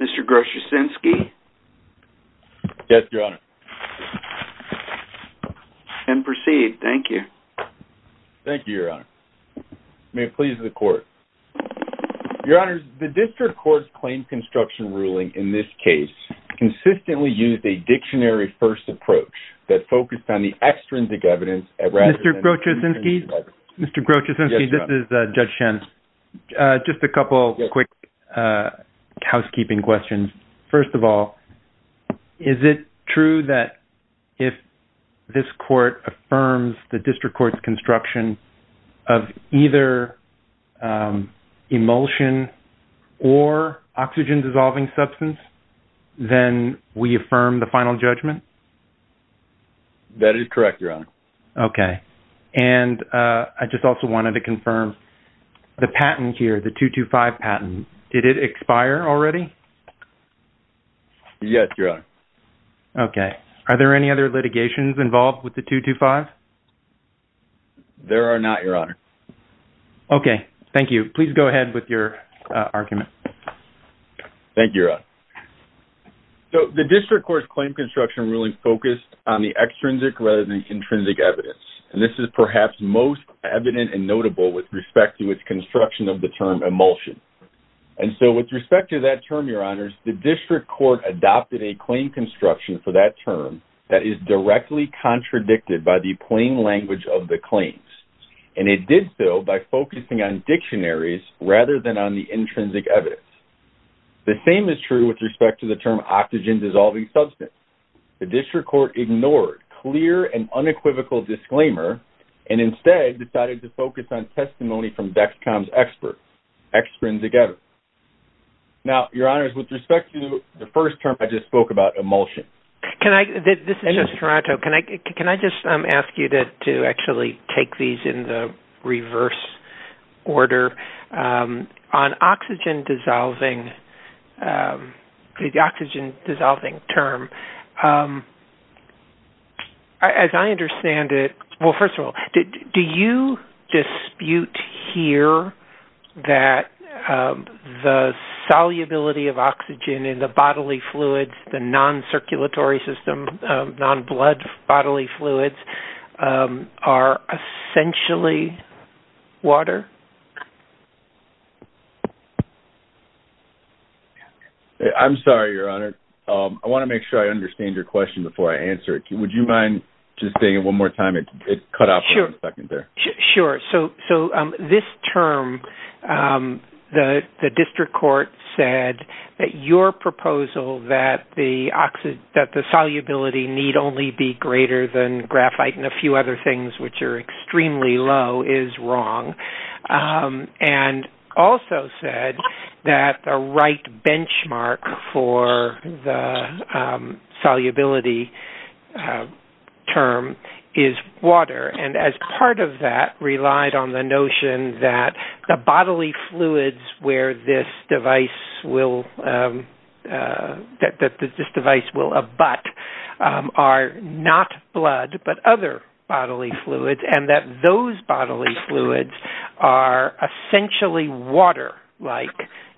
Mr. Grosz-Yosinski? Yes, Your Honor. And proceed. Thank you. Thank you, Your Honor. May it please the court. Your Honor, the district court's claim construction ruling in this case consistently used a dictionary first approach that focused on the extrinsic evidence at rather than the... Mr. Grosz-Yosinski? Mr. Grosz-Yosinski, this is Judge Schen. Just a couple of quick housekeeping questions. First of all, is it true that if this court affirms the district court's construction of either emulsion or oxygen dissolving substance, then we affirm the final judgment? That is correct, Your Honor. Okay. And I just also wanted to confirm the patent here, the 225 patent. Did it expire already? Yes, Your Honor. Okay. Are there any other litigations involved with the 225? There are not, Your Honor. Okay. Thank you. Please go ahead with your argument. Thank you, Your Honor. So the district court's claim construction ruling focused on the extrinsic rather than the intrinsic evidence. And this is perhaps most evident and notable with respect to its construction of the term emulsion. And so with respect to that term, Your Honors, the district court adopted a claim construction for that term that is directly contradicted by the plain language of the claims, and it did so by focusing on dictionaries rather than on the intrinsic evidence. The same is true with respect to the term oxygen dissolving substance. The district court ignored clear and unequivocal disclaimer, and instead decided to focus on testimony from Vexcom's experts, extrinsic evidence. Now, Your Honors, with respect to the first term, I just spoke about emulsion. Can I, this is just Toronto. Can I, can I just ask you to actually take these in the reverse order? On oxygen dissolving, the oxygen dissolving term, as I understand it, well, first of all, do you dispute here that the solubility of oxygen in the bodily fluids, the non-circulatory system, non-blood bodily fluids, are essentially water? I'm sorry, Your Honor. I want to make sure I understand your question before I answer it. Would you mind just saying it one more time? It cut off for a second there. Sure. So, so this term, the district court said that your proposal that the oxy-, that the solubility need only be greater than graphite and a few other things, which are extremely low, is wrong, and also said that the right benchmark for the solubility term is water, and as part of that relied on the notion that the bodily fluids where this device will, that this device will dissolve bodily fluids, and that those bodily fluids are essentially water-like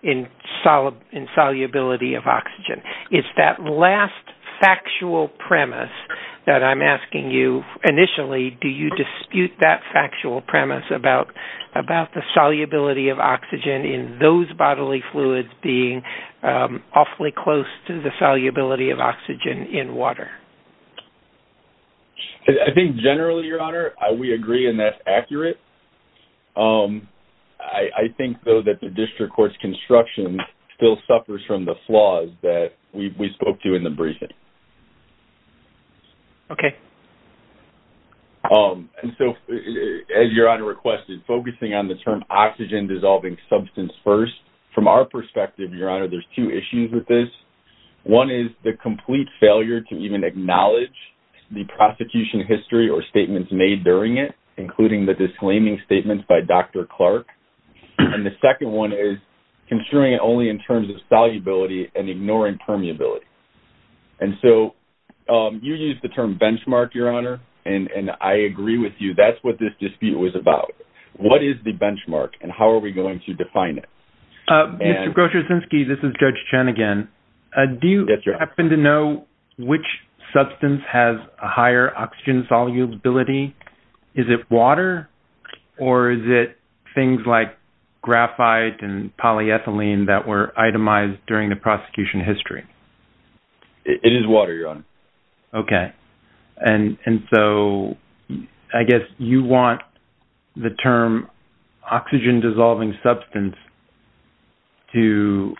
in solubility of oxygen. It's that last factual premise that I'm asking you, initially, do you dispute that factual premise about the solubility of oxygen in those bodily fluids being awfully close to the solubility of oxygen in water? I think generally, Your Honor, we agree, and that's accurate. I think, though, that the district court's construction still suffers from the flaws that we spoke to in the briefing. Okay. And so, as Your Honor requested, focusing on the term oxygen-dissolving substance first, from our perspective, Your Honor, there's two issues with this. One is to acknowledge the prosecution history or statements made during it, including the disclaiming statements by Dr. Clark, and the second one is construing it only in terms of solubility and ignoring permeability. And so, you used the term benchmark, Your Honor, and I agree with you. That's what this dispute was about. What is the benchmark and how are we going to define it? Mr. Grosz-Ryczynski, this is Judge Chen again. Do you happen to know which substance has a higher oxygen solubility? Is it water or is it things like graphite and polyethylene that were itemized during the prosecution history? It is water, Your Honor. Okay. And so, I guess you want the term oxygen-dissolving substance to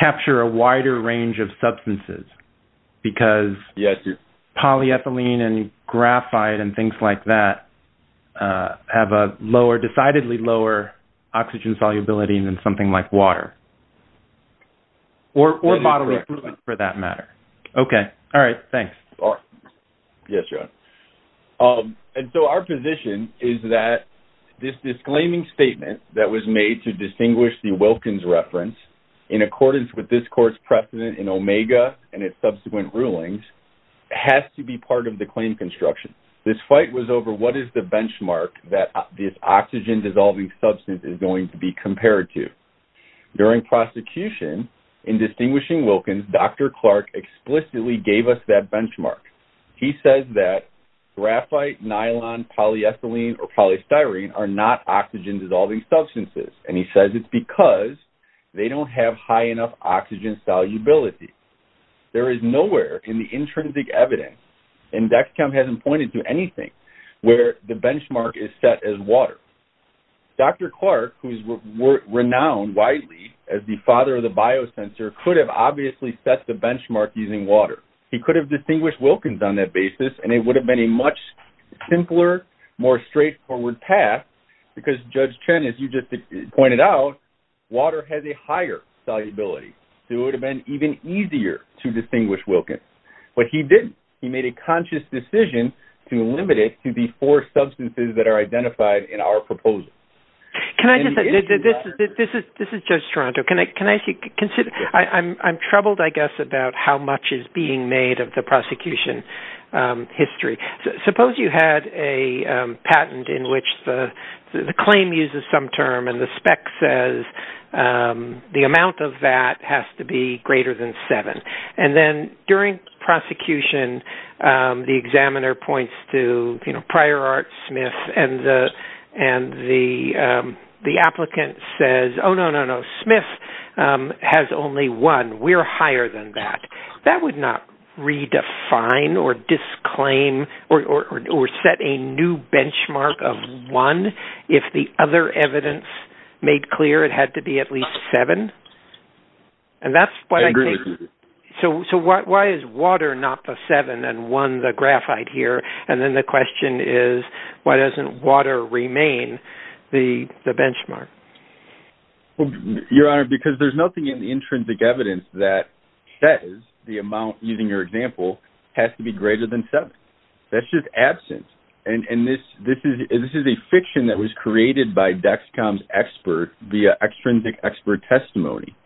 capture a wider range of substances because polyethylene and graphite and things like that have a lower, decidedly lower, oxygen solubility than something like water or bottled water for that matter. Okay. All right. Thanks. All right. Yes, Your Honor. And so, our position is that this disclaiming statement that was made to distinguish the Wilkins reference in accordance with this court's precedent in Omega and its subsequent rulings has to be part of the claim construction. This fight was over what is the benchmark that this oxygen-dissolving substance is going to be compared to. During prosecution, in distinguishing Wilkins, Dr. He says that graphite, nylon, polyethylene, or polystyrene are not oxygen-dissolving substances, and he says it's because they don't have high enough oxygen solubility. There is nowhere in the intrinsic evidence, and Dexcom hasn't pointed to anything, where the benchmark is set as water. Dr. Clark, who is renowned widely as the father of the biosensor, could have obviously set the benchmark using water. He could have distinguished Wilkins on that basis, and it would have been a much simpler, more straightforward path, because Judge Chen, as you just pointed out, water has a higher solubility. It would have been even easier to distinguish Wilkins. But he didn't. He made a conscious decision to limit it to the four substances that are identified in our proposal. Can I just say, this is Judge Toronto, can I ask you, I'm troubled, I guess, about how much is being made of the prosecution history. Suppose you had a patent in which the claim uses some term, and the spec says the amount of that has to be greater than seven, and then during prosecution, the examiner points to Prior Art Smith, and the applicant says, oh, no, no, no. We're higher than that. That would not redefine or disclaim or set a new benchmark of one if the other evidence made clear it had to be at least seven. And that's what I think. So why is water not the seven and one the graphite here? And then the question is, why doesn't water remain the benchmark? Your Honor, because there's nothing in the intrinsic evidence that says the amount, using your example, has to be greater than seven, that's just absent. And this is a fiction that was created by Dexcom's expert, the extrinsic expert testimony,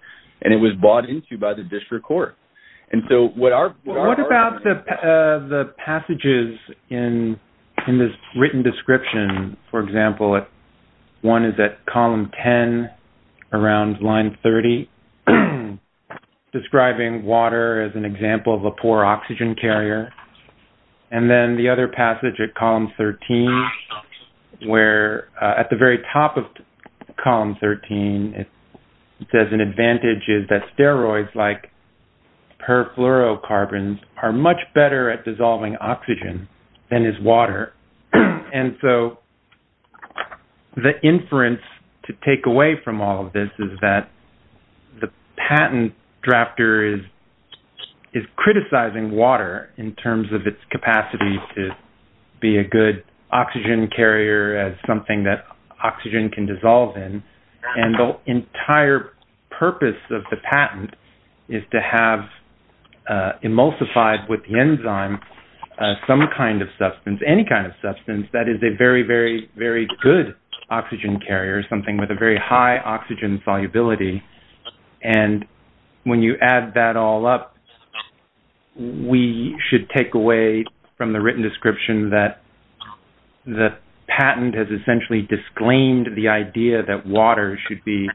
and it was bought into by the district court. And so what our... What about the passages in this written description, for example, one is that column 10 around line 30, describing water as an example of a poor oxygen carrier, and then the other passage at column 13, where at the very top of column 13, it says an advantage is that steroids like perfluorocarbons are much better at dissolving oxygen than is water. And so the inference to take away from all of this is that the patent drafter is criticizing water in terms of its capacity to be a good oxygen carrier as something that oxygen can dissolve in. And the entire purpose of the patent is to have emulsified with the enzyme, some kind of substance, any kind of substance that is a very, very, very good oxygen carrier, something with a very high oxygen solubility. And when you add that all up, we should take away from the written description that the patent has essentially disclaimed the idea that water should be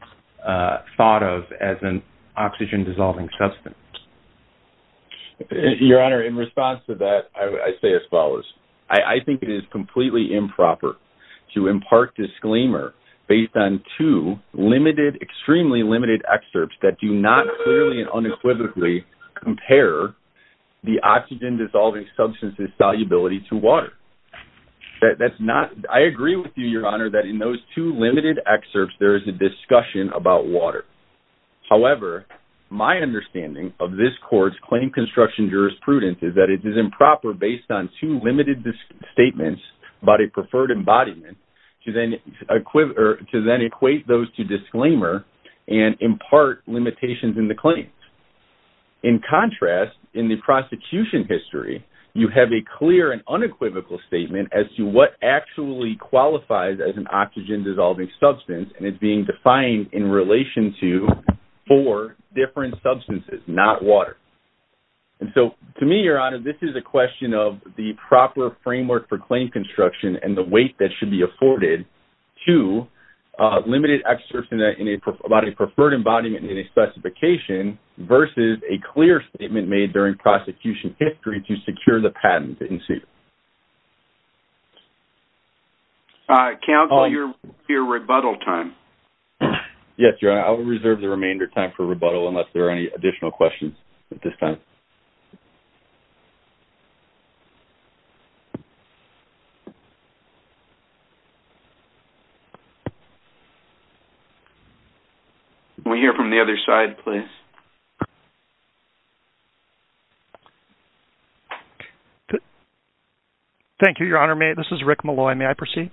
thought of as an oxygen dissolving substance. Your Honor, in response to that, I say as follows. I think it is completely improper to impart disclaimer based on two limited, extremely limited excerpts that do not clearly and unequivocally compare the oxygen dissolving substance's solubility to water. That's not, I agree with you, Your Honor, that in those two limited excerpts, there is a discussion about water. However, my understanding of this court's claim construction jurisprudence is that it is improper based on two limited statements about a preferred embodiment to then equate those to disclaimer and impart limitations in the claim. In contrast, in the prosecution history, you have a clear and unequivocal statement as to what actually qualifies as an oxygen dissolving substance and it's being defined in relation to four different substances, not water. And so to me, Your Honor, this is a question of the proper framework for claim construction and the weight that should be afforded to limited excerpts about a preferred embodiment in a specification versus a clear statement made during prosecution history to secure the patent in suit. Counsel, your rebuttal time. Yes, Your Honor, I will reserve the remainder of time for rebuttal unless there are any additional questions at this time. We hear from the other side, please. Thank you, Your Honor, this is Rick Malloy, may I proceed?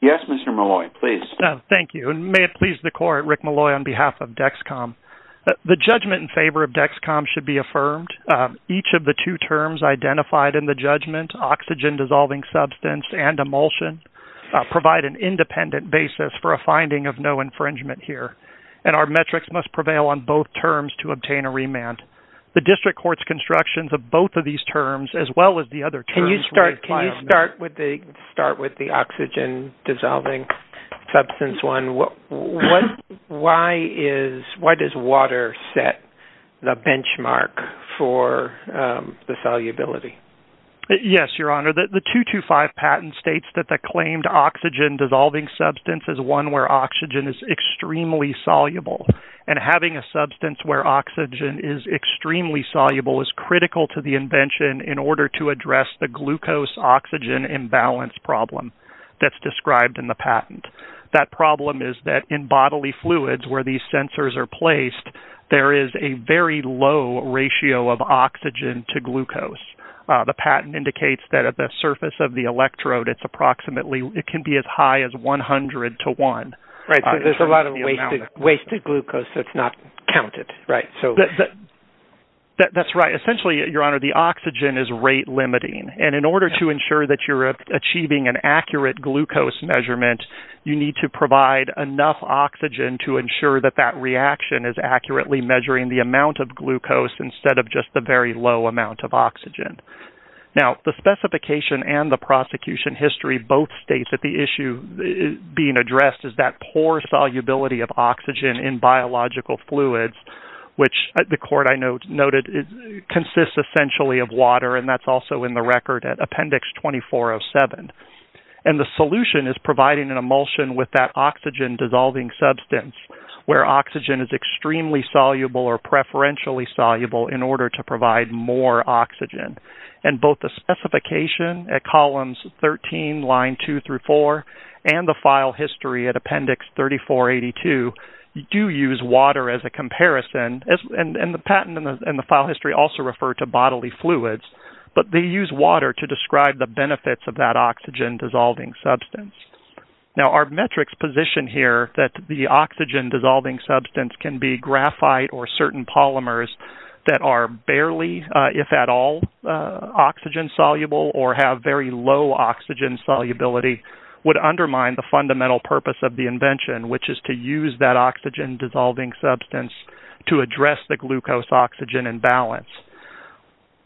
Yes, Mr. Malloy, please. Thank you. And may it please the court, Rick Malloy, on behalf of DEXCOM, the judgment in favor of DEXCOM should be affirmed. Each of the two terms identified in the judgment, oxygen dissolving substance and emulsion, provide an independent basis for a finding of no infringement here. And our metrics must prevail on both terms to obtain a remand. The district court's constructions of both of these terms, as well as the other. Can you start, can you start with the start with the oxygen dissolving substance one? What, why is, why does water set the benchmark for the solubility? Yes, Your Honor, the 225 patent states that the claimed oxygen dissolving substance is one where oxygen is extremely soluble. And having a substance where oxygen is extremely soluble is critical to the glucose oxygen imbalance problem that's described in the patent. That problem is that in bodily fluids where these sensors are placed, there is a very low ratio of oxygen to glucose. The patent indicates that at the surface of the electrode, it's approximately, it can be as high as 100 to 1. Right, so there's a lot of wasted, wasted glucose, so it's not counted. Right. So that's right. Essentially, Your Honor, the oxygen is rate limiting. And in order to ensure that you're achieving an accurate glucose measurement, you need to provide enough oxygen to ensure that that reaction is accurately measuring the amount of glucose instead of just the very low amount of oxygen. Now, the specification and the prosecution history both states that the issue being addressed is that poor solubility of oxygen in biological fluids, which the court, I believe, has a record at Appendix 2407, and the solution is providing an emulsion with that oxygen dissolving substance where oxygen is extremely soluble or preferentially soluble in order to provide more oxygen. And both the specification at columns 13, line 2 through 4, and the file history at Appendix 3482 do use water as a comparison. And the patent and the file history also refer to bodily fluids, but they use water to describe the benefits of that oxygen dissolving substance. Now, our metrics position here that the oxygen dissolving substance can be graphite or certain polymers that are barely, if at all, oxygen soluble or have very low oxygen solubility would undermine the fundamental purpose of the invention, which is to use that to address the glucose-oxygen imbalance.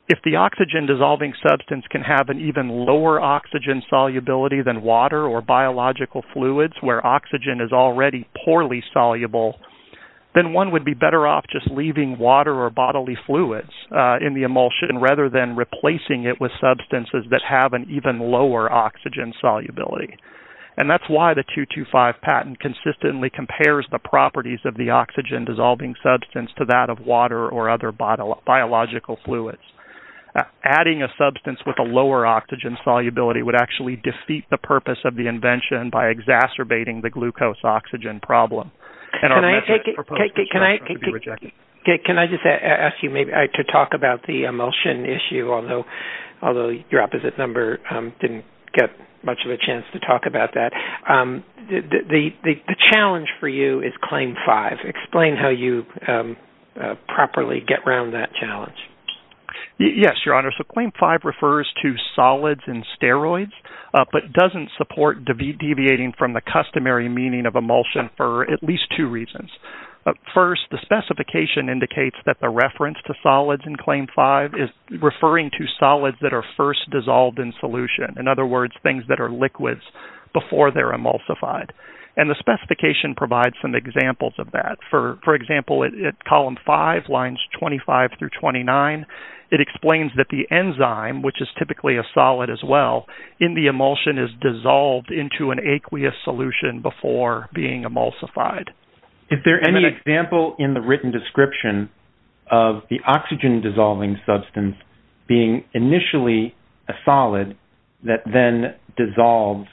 If the oxygen dissolving substance can have an even lower oxygen solubility than water or biological fluids where oxygen is already poorly soluble, then one would be better off just leaving water or bodily fluids in the emulsion rather than replacing it with substances that have an even lower oxygen solubility. And that's why the 225 patent consistently compares the properties of the oxygen dissolving substance to that of water or other biological fluids. Adding a substance with a lower oxygen solubility would actually defeat the purpose of the invention by exacerbating the glucose-oxygen problem. Can I just ask you to talk about the emulsion issue, although your opposite number didn't get much of a chance to talk about that. The challenge for you is claim five. Explain how you properly get around that challenge. Yes, Your Honor. So claim five refers to solids and steroids, but doesn't support deviating from the customary meaning of emulsion for at least two reasons. First, the specification indicates that the reference to solids in claim five is referring to solids that are first dissolved in solution. In other words, things that are liquids before they're emulsified. And the specification provides some examples of that. For example, at column five, lines 25 through 29, it explains that the enzyme, which is typically a solid as well, in the emulsion is dissolved into an aqueous solution before being emulsified. Is there any example in the written description of the oxygen dissolving substance being initially a solid that then dissolves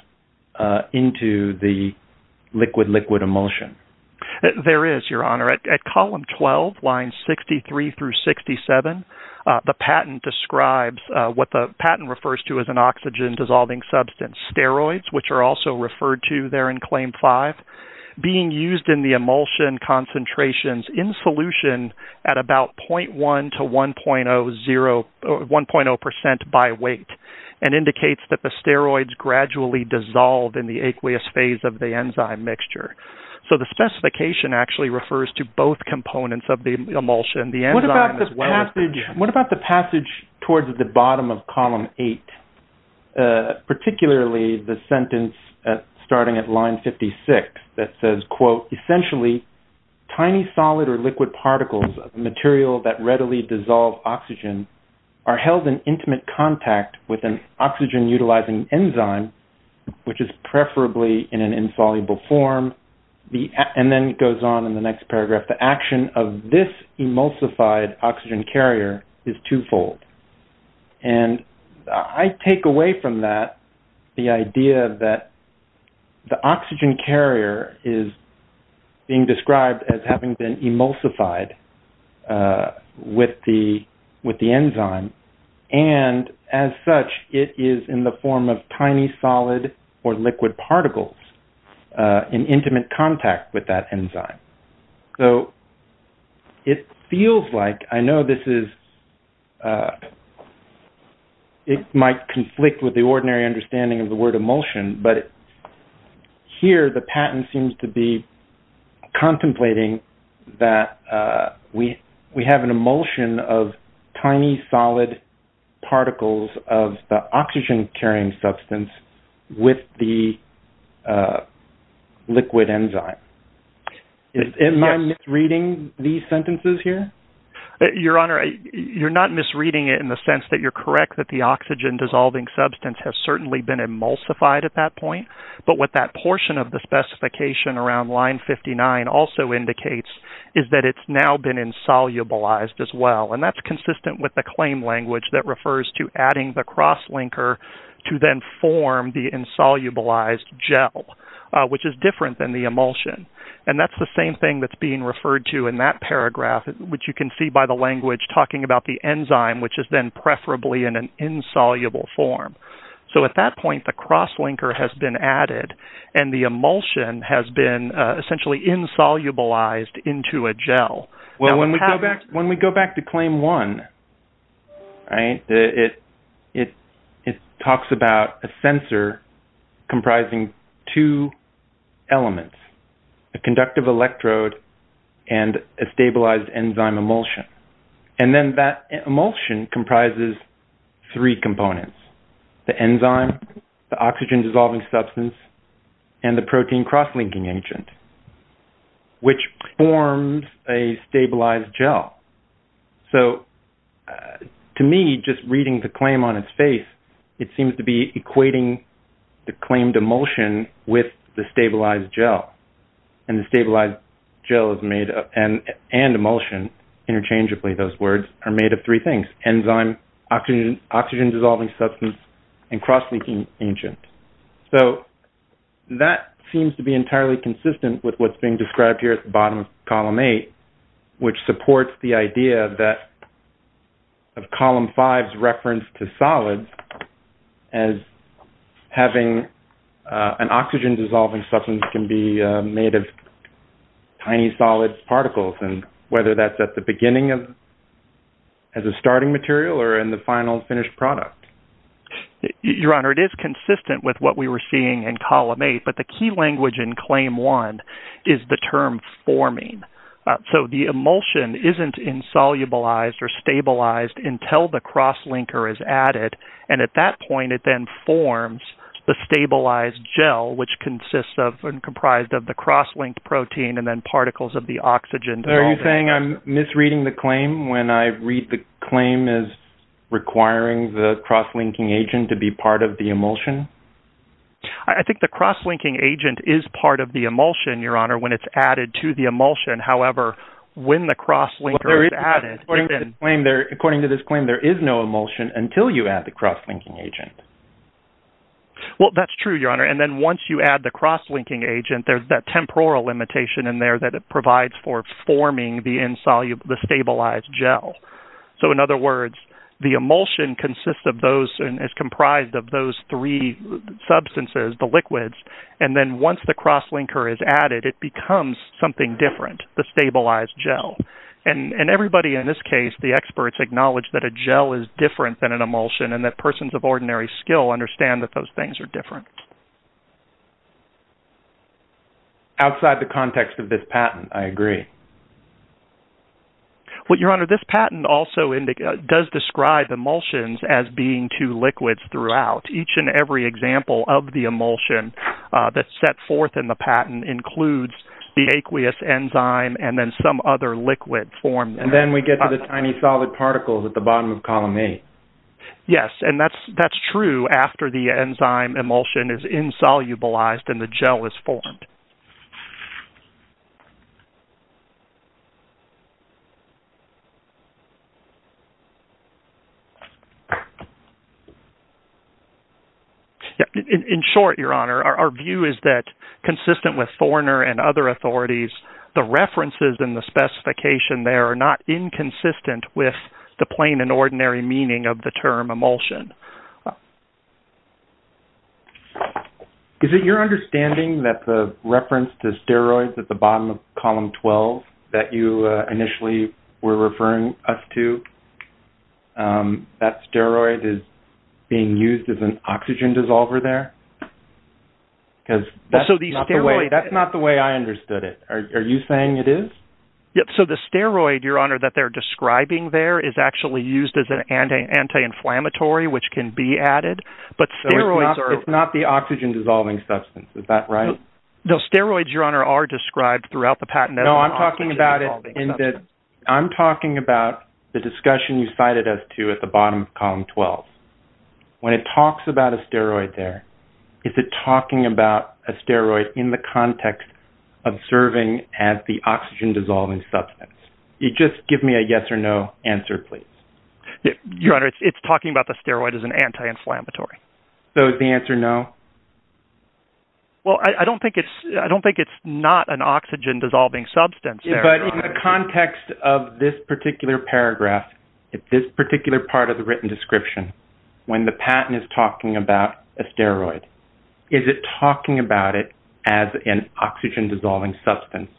into the liquid-liquid emulsion? There is, Your Honor. At column 12, lines 63 through 67, the patent describes what the patent refers to as an oxygen dissolving substance, steroids, which are also referred to there in claim five, being used in the emulsion concentrations in solution at about 0.1 to 1.0 percent by weight, and indicates that the steroids gradually dissolve in the aqueous phase of the enzyme mixture. So the specification actually refers to both components of the emulsion. What about the passage towards the bottom of column eight, particularly the section 186, that says, quote, essentially, tiny solid or liquid particles of material that readily dissolve oxygen are held in intimate contact with an oxygen utilizing enzyme, which is preferably in an insoluble form. And then it goes on in the next paragraph. The action of this emulsified oxygen carrier is twofold. And I take away from that the idea that the oxygen carrier is being described as having been emulsified with the enzyme. And as such, it is in the form of tiny solid or liquid particles in intimate contact with that enzyme. So it feels like I know this is it might conflict with the ordinary understanding of the word emulsion, but here the patent seems to be contemplating that we have an emulsion of tiny solid particles of the oxygen carrying substance with the liquid enzyme. Am I misreading these sentences here? Your Honor, you're not misreading it in the sense that you're correct that the oxygen dissolving substance has certainly been emulsified at that point. But what that portion of the specification around line 59 also indicates is that it's now been insolubilized as well. And that's consistent with the claim language that refers to adding the cross linker to then form the insolubilized gel, which is different than the emulsion. And that's the same thing that's being referred to in that paragraph, which you can see by the language talking about the enzyme, which has been preferably in an insoluble form. So at that point, the cross linker has been added and the emulsion has been essentially insolubilized into a gel. Well, when we go back to claim one, it talks about a sensor comprising two elements, a conductive electrode and a stabilized enzyme emulsion. And then that emulsion comprises three components, the enzyme, the oxygen dissolving substance, and the protein cross-linking agent, which forms a stabilized gel. So to me, just reading the claim on its face, it seems to be equating the claimed emulsion with the stabilized gel and the stabilized gel is made and emulsion. Interchangeably, those words are made of three things, enzyme, oxygen, oxygen dissolving substance, and cross-linking agent. So that seems to be entirely consistent with what's being described here at the bottom of column eight, which supports the idea that of column five's reference to an oxygen dissolving substance can be made of tiny solid particles. And whether that's at the beginning of as a starting material or in the final finished product. Your Honor, it is consistent with what we were seeing in column eight, but the key language in claim one is the term forming. So the emulsion isn't insolubilized or stabilized until the cross-linker is a stabilized gel, which consists of and comprised of the cross-linked protein and then particles of the oxygen. Are you saying I'm misreading the claim when I read the claim as requiring the cross-linking agent to be part of the emulsion? I think the cross-linking agent is part of the emulsion, Your Honor, when it's added to the emulsion. However, when the cross-linker is added. According to this claim, there is no emulsion until you add the cross-linking agent. Well, that's true, Your Honor. And then once you add the cross-linking agent, there's that temporal limitation in there that it provides for forming the insoluble, the stabilized gel. So in other words, the emulsion consists of those and is comprised of those three substances, the liquids. And then once the cross-linker is added, it becomes something different, the stabilized gel. And everybody in this case, the experts acknowledge that a gel is different than an emulsion, but they still understand that those things are different. Outside the context of this patent, I agree. Well, Your Honor, this patent also does describe emulsions as being two liquids throughout. Each and every example of the emulsion that's set forth in the patent includes the aqueous enzyme and then some other liquid formed. And then we get to the tiny solid particles at the bottom of Column A. Yes, and that's true after the enzyme emulsion is insolubilized and the gel is formed. In short, Your Honor, our view is that consistent with Thorner and other authorities, the references in the specification there are not inconsistent with the plain and ordinary meaning of the term emulsion. Is it your understanding that the reference to steroids at the bottom of Column 12 that you initially were referring us to, that steroid is being used as an oxygen dissolver there? Because that's not the way I understood it. Are you saying it is? Yes, so the steroid, Your Honor, that they're describing there is actually used as an anti-inflammatory, which can be added, but steroids are... So it's not the oxygen dissolving substance, is that right? No, steroids, Your Honor, are described throughout the patent. No, I'm talking about it in that I'm talking about the discussion you cited us to at the bottom of Column 12. When it talks about a steroid there, is it talking about a steroid in the context of serving as the oxygen dissolving substance? You just give me a yes or no answer, please. Your Honor, it's talking about the steroid as an anti-inflammatory. So the answer, no? Well, I don't think it's I don't think it's not an oxygen dissolving substance. But in the context of this particular paragraph, if this particular part of the written description, when the patent is talking about a steroid, is it talking about it as an oxygen dissolving substance?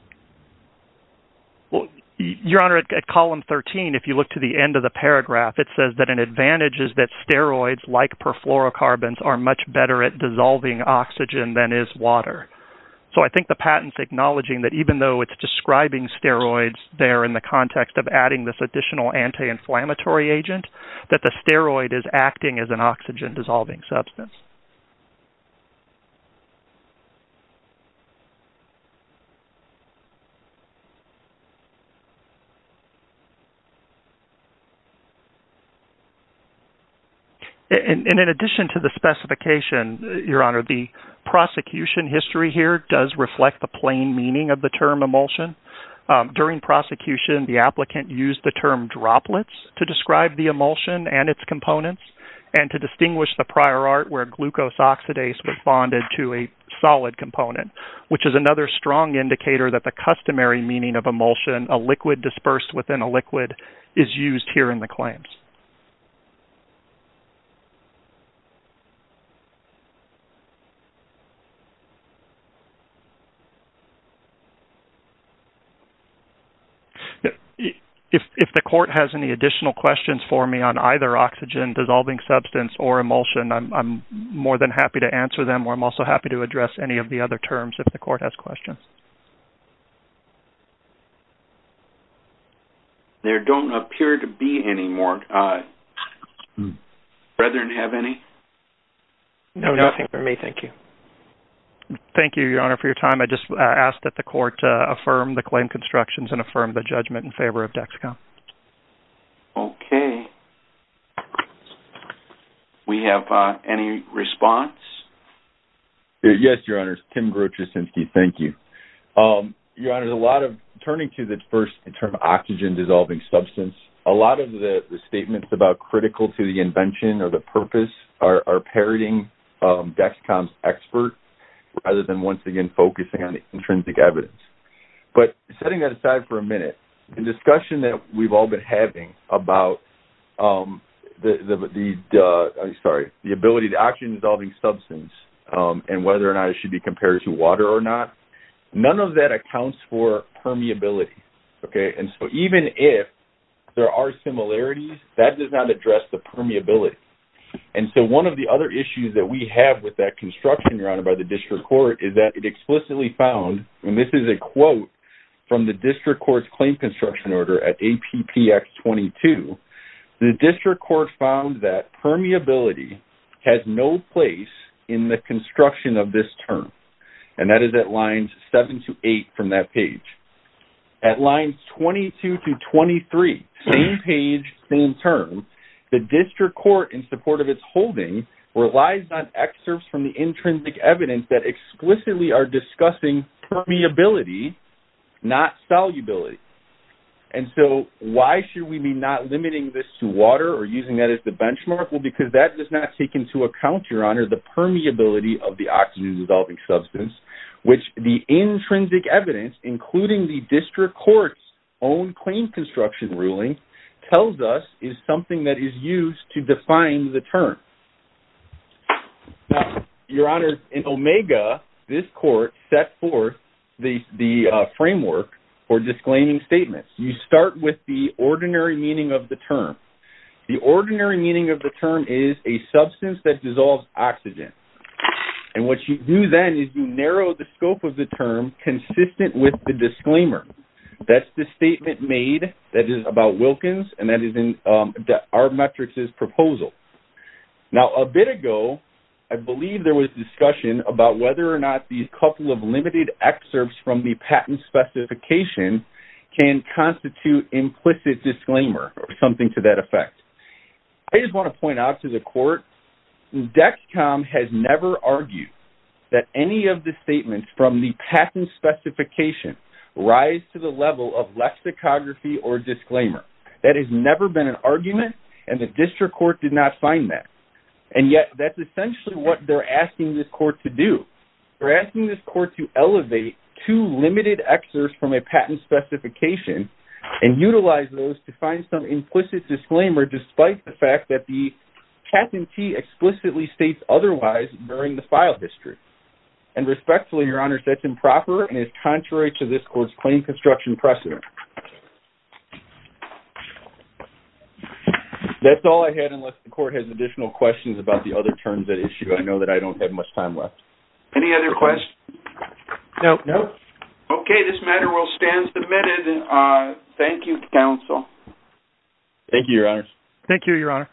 Well, Your Honor, at Column 13, if you look to the end of the paragraph, it says that an advantage is that steroids like perfluorocarbons are much better at dissolving oxygen than is water. So I think the patent's acknowledging that even though it's describing steroids there in the context of adding this additional anti-inflammatory agent, that the steroid is acting as an oxygen dissolving substance. And in addition to the specification, Your Honor, the prosecution history here does reflect the plain meaning of the term emulsion. During prosecution, the applicant used the term droplets to describe the emulsion and its components and to distinguish the prior art where glucose oxidase was bonded to a solid component, which is another strong indicator that the customary meaning of emulsion, a liquid dispersed within a liquid, is used here in the claims. If the court has any additional questions for me on either oxygen dissolving substance or emulsion, I'm more than happy to answer them, or I'm also happy to address any of the other terms if the court has questions. There don't appear to be any more. Brethren, do you have any? No, nothing for me. Thank you. Thank you, Your Honor, for your time. I just ask that the court affirm the claim constructions and affirm the judgment in favor of Dexcom. Okay. We have, uh, any response? Yes, Your Honor. Tim Grotjesinski. Thank you. Um, Your Honor, there's a lot of turning to the first term oxygen dissolving substance. A lot of the statements about critical to the invention or the purpose are, are parroting, um, Dexcom's expert rather than once again, focusing on the intrinsic evidence, but setting that aside for a minute, the discussion that we've all been having about, um, the, the, the, uh, I'm sorry, the ability to oxygen dissolving substance, um, and whether or not it should be compared to water or not. None of that accounts for permeability. Okay. And so even if there are similarities that does not address the permeability. And so one of the other issues that we have with that construction, Your Honor, by the district court is that it explicitly found, and this is a quote from the 22, the district court found that permeability has no place in the construction of this term. And that is at lines seven to eight from that page at lines 22 to 23, same page, same term, the district court in support of its holding relies on excerpts from the intrinsic evidence that explicitly are discussing permeability, not solubility. And so why should we be not limiting this to water or using that as the benchmark? Well, because that does not take into account your honor, the permeability of the oxygen developing substance, which the intrinsic evidence, including the district court's own claim construction ruling tells us is something that is used to define the term. Now, Your Honor, in Omega, this court set forth the framework for disclaiming statements. You start with the ordinary meaning of the term. The ordinary meaning of the term is a substance that dissolves oxygen. And what you do then is you narrow the scope of the term consistent with the disclaimer. That's the statement made that is about Wilkins and that is in our metrics is proposal. Now, a bit ago, I believe there was discussion about whether or not these couple of limited excerpts from the patent specification can constitute implicit disclaimer or something to that effect. I just want to point out to the court, DECCOM has never argued that any of the statements from the patent specification rise to the level of lexicography or disclaimer. That has never been an argument and the district court did not find that. And yet that's essentially what they're asking this court to do. They're asking this court to elevate two limited excerpts from a patent specification and utilize those to find some implicit disclaimer, despite the fact that the patentee explicitly states otherwise during the file history. And respectfully, Your Honor, that's improper and is contrary to this court's claim construction precedent. That's all I had, unless the court has additional questions about the other terms at issue. I know that I don't have much time left. Any other questions? Nope. Nope. Okay. This matter will stand submitted. Uh, thank you, counsel. Thank you, Your Honor. Thank you, Your Honor.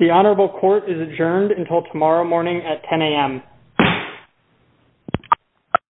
The honorable court is adjourned until tomorrow morning at 10 AM.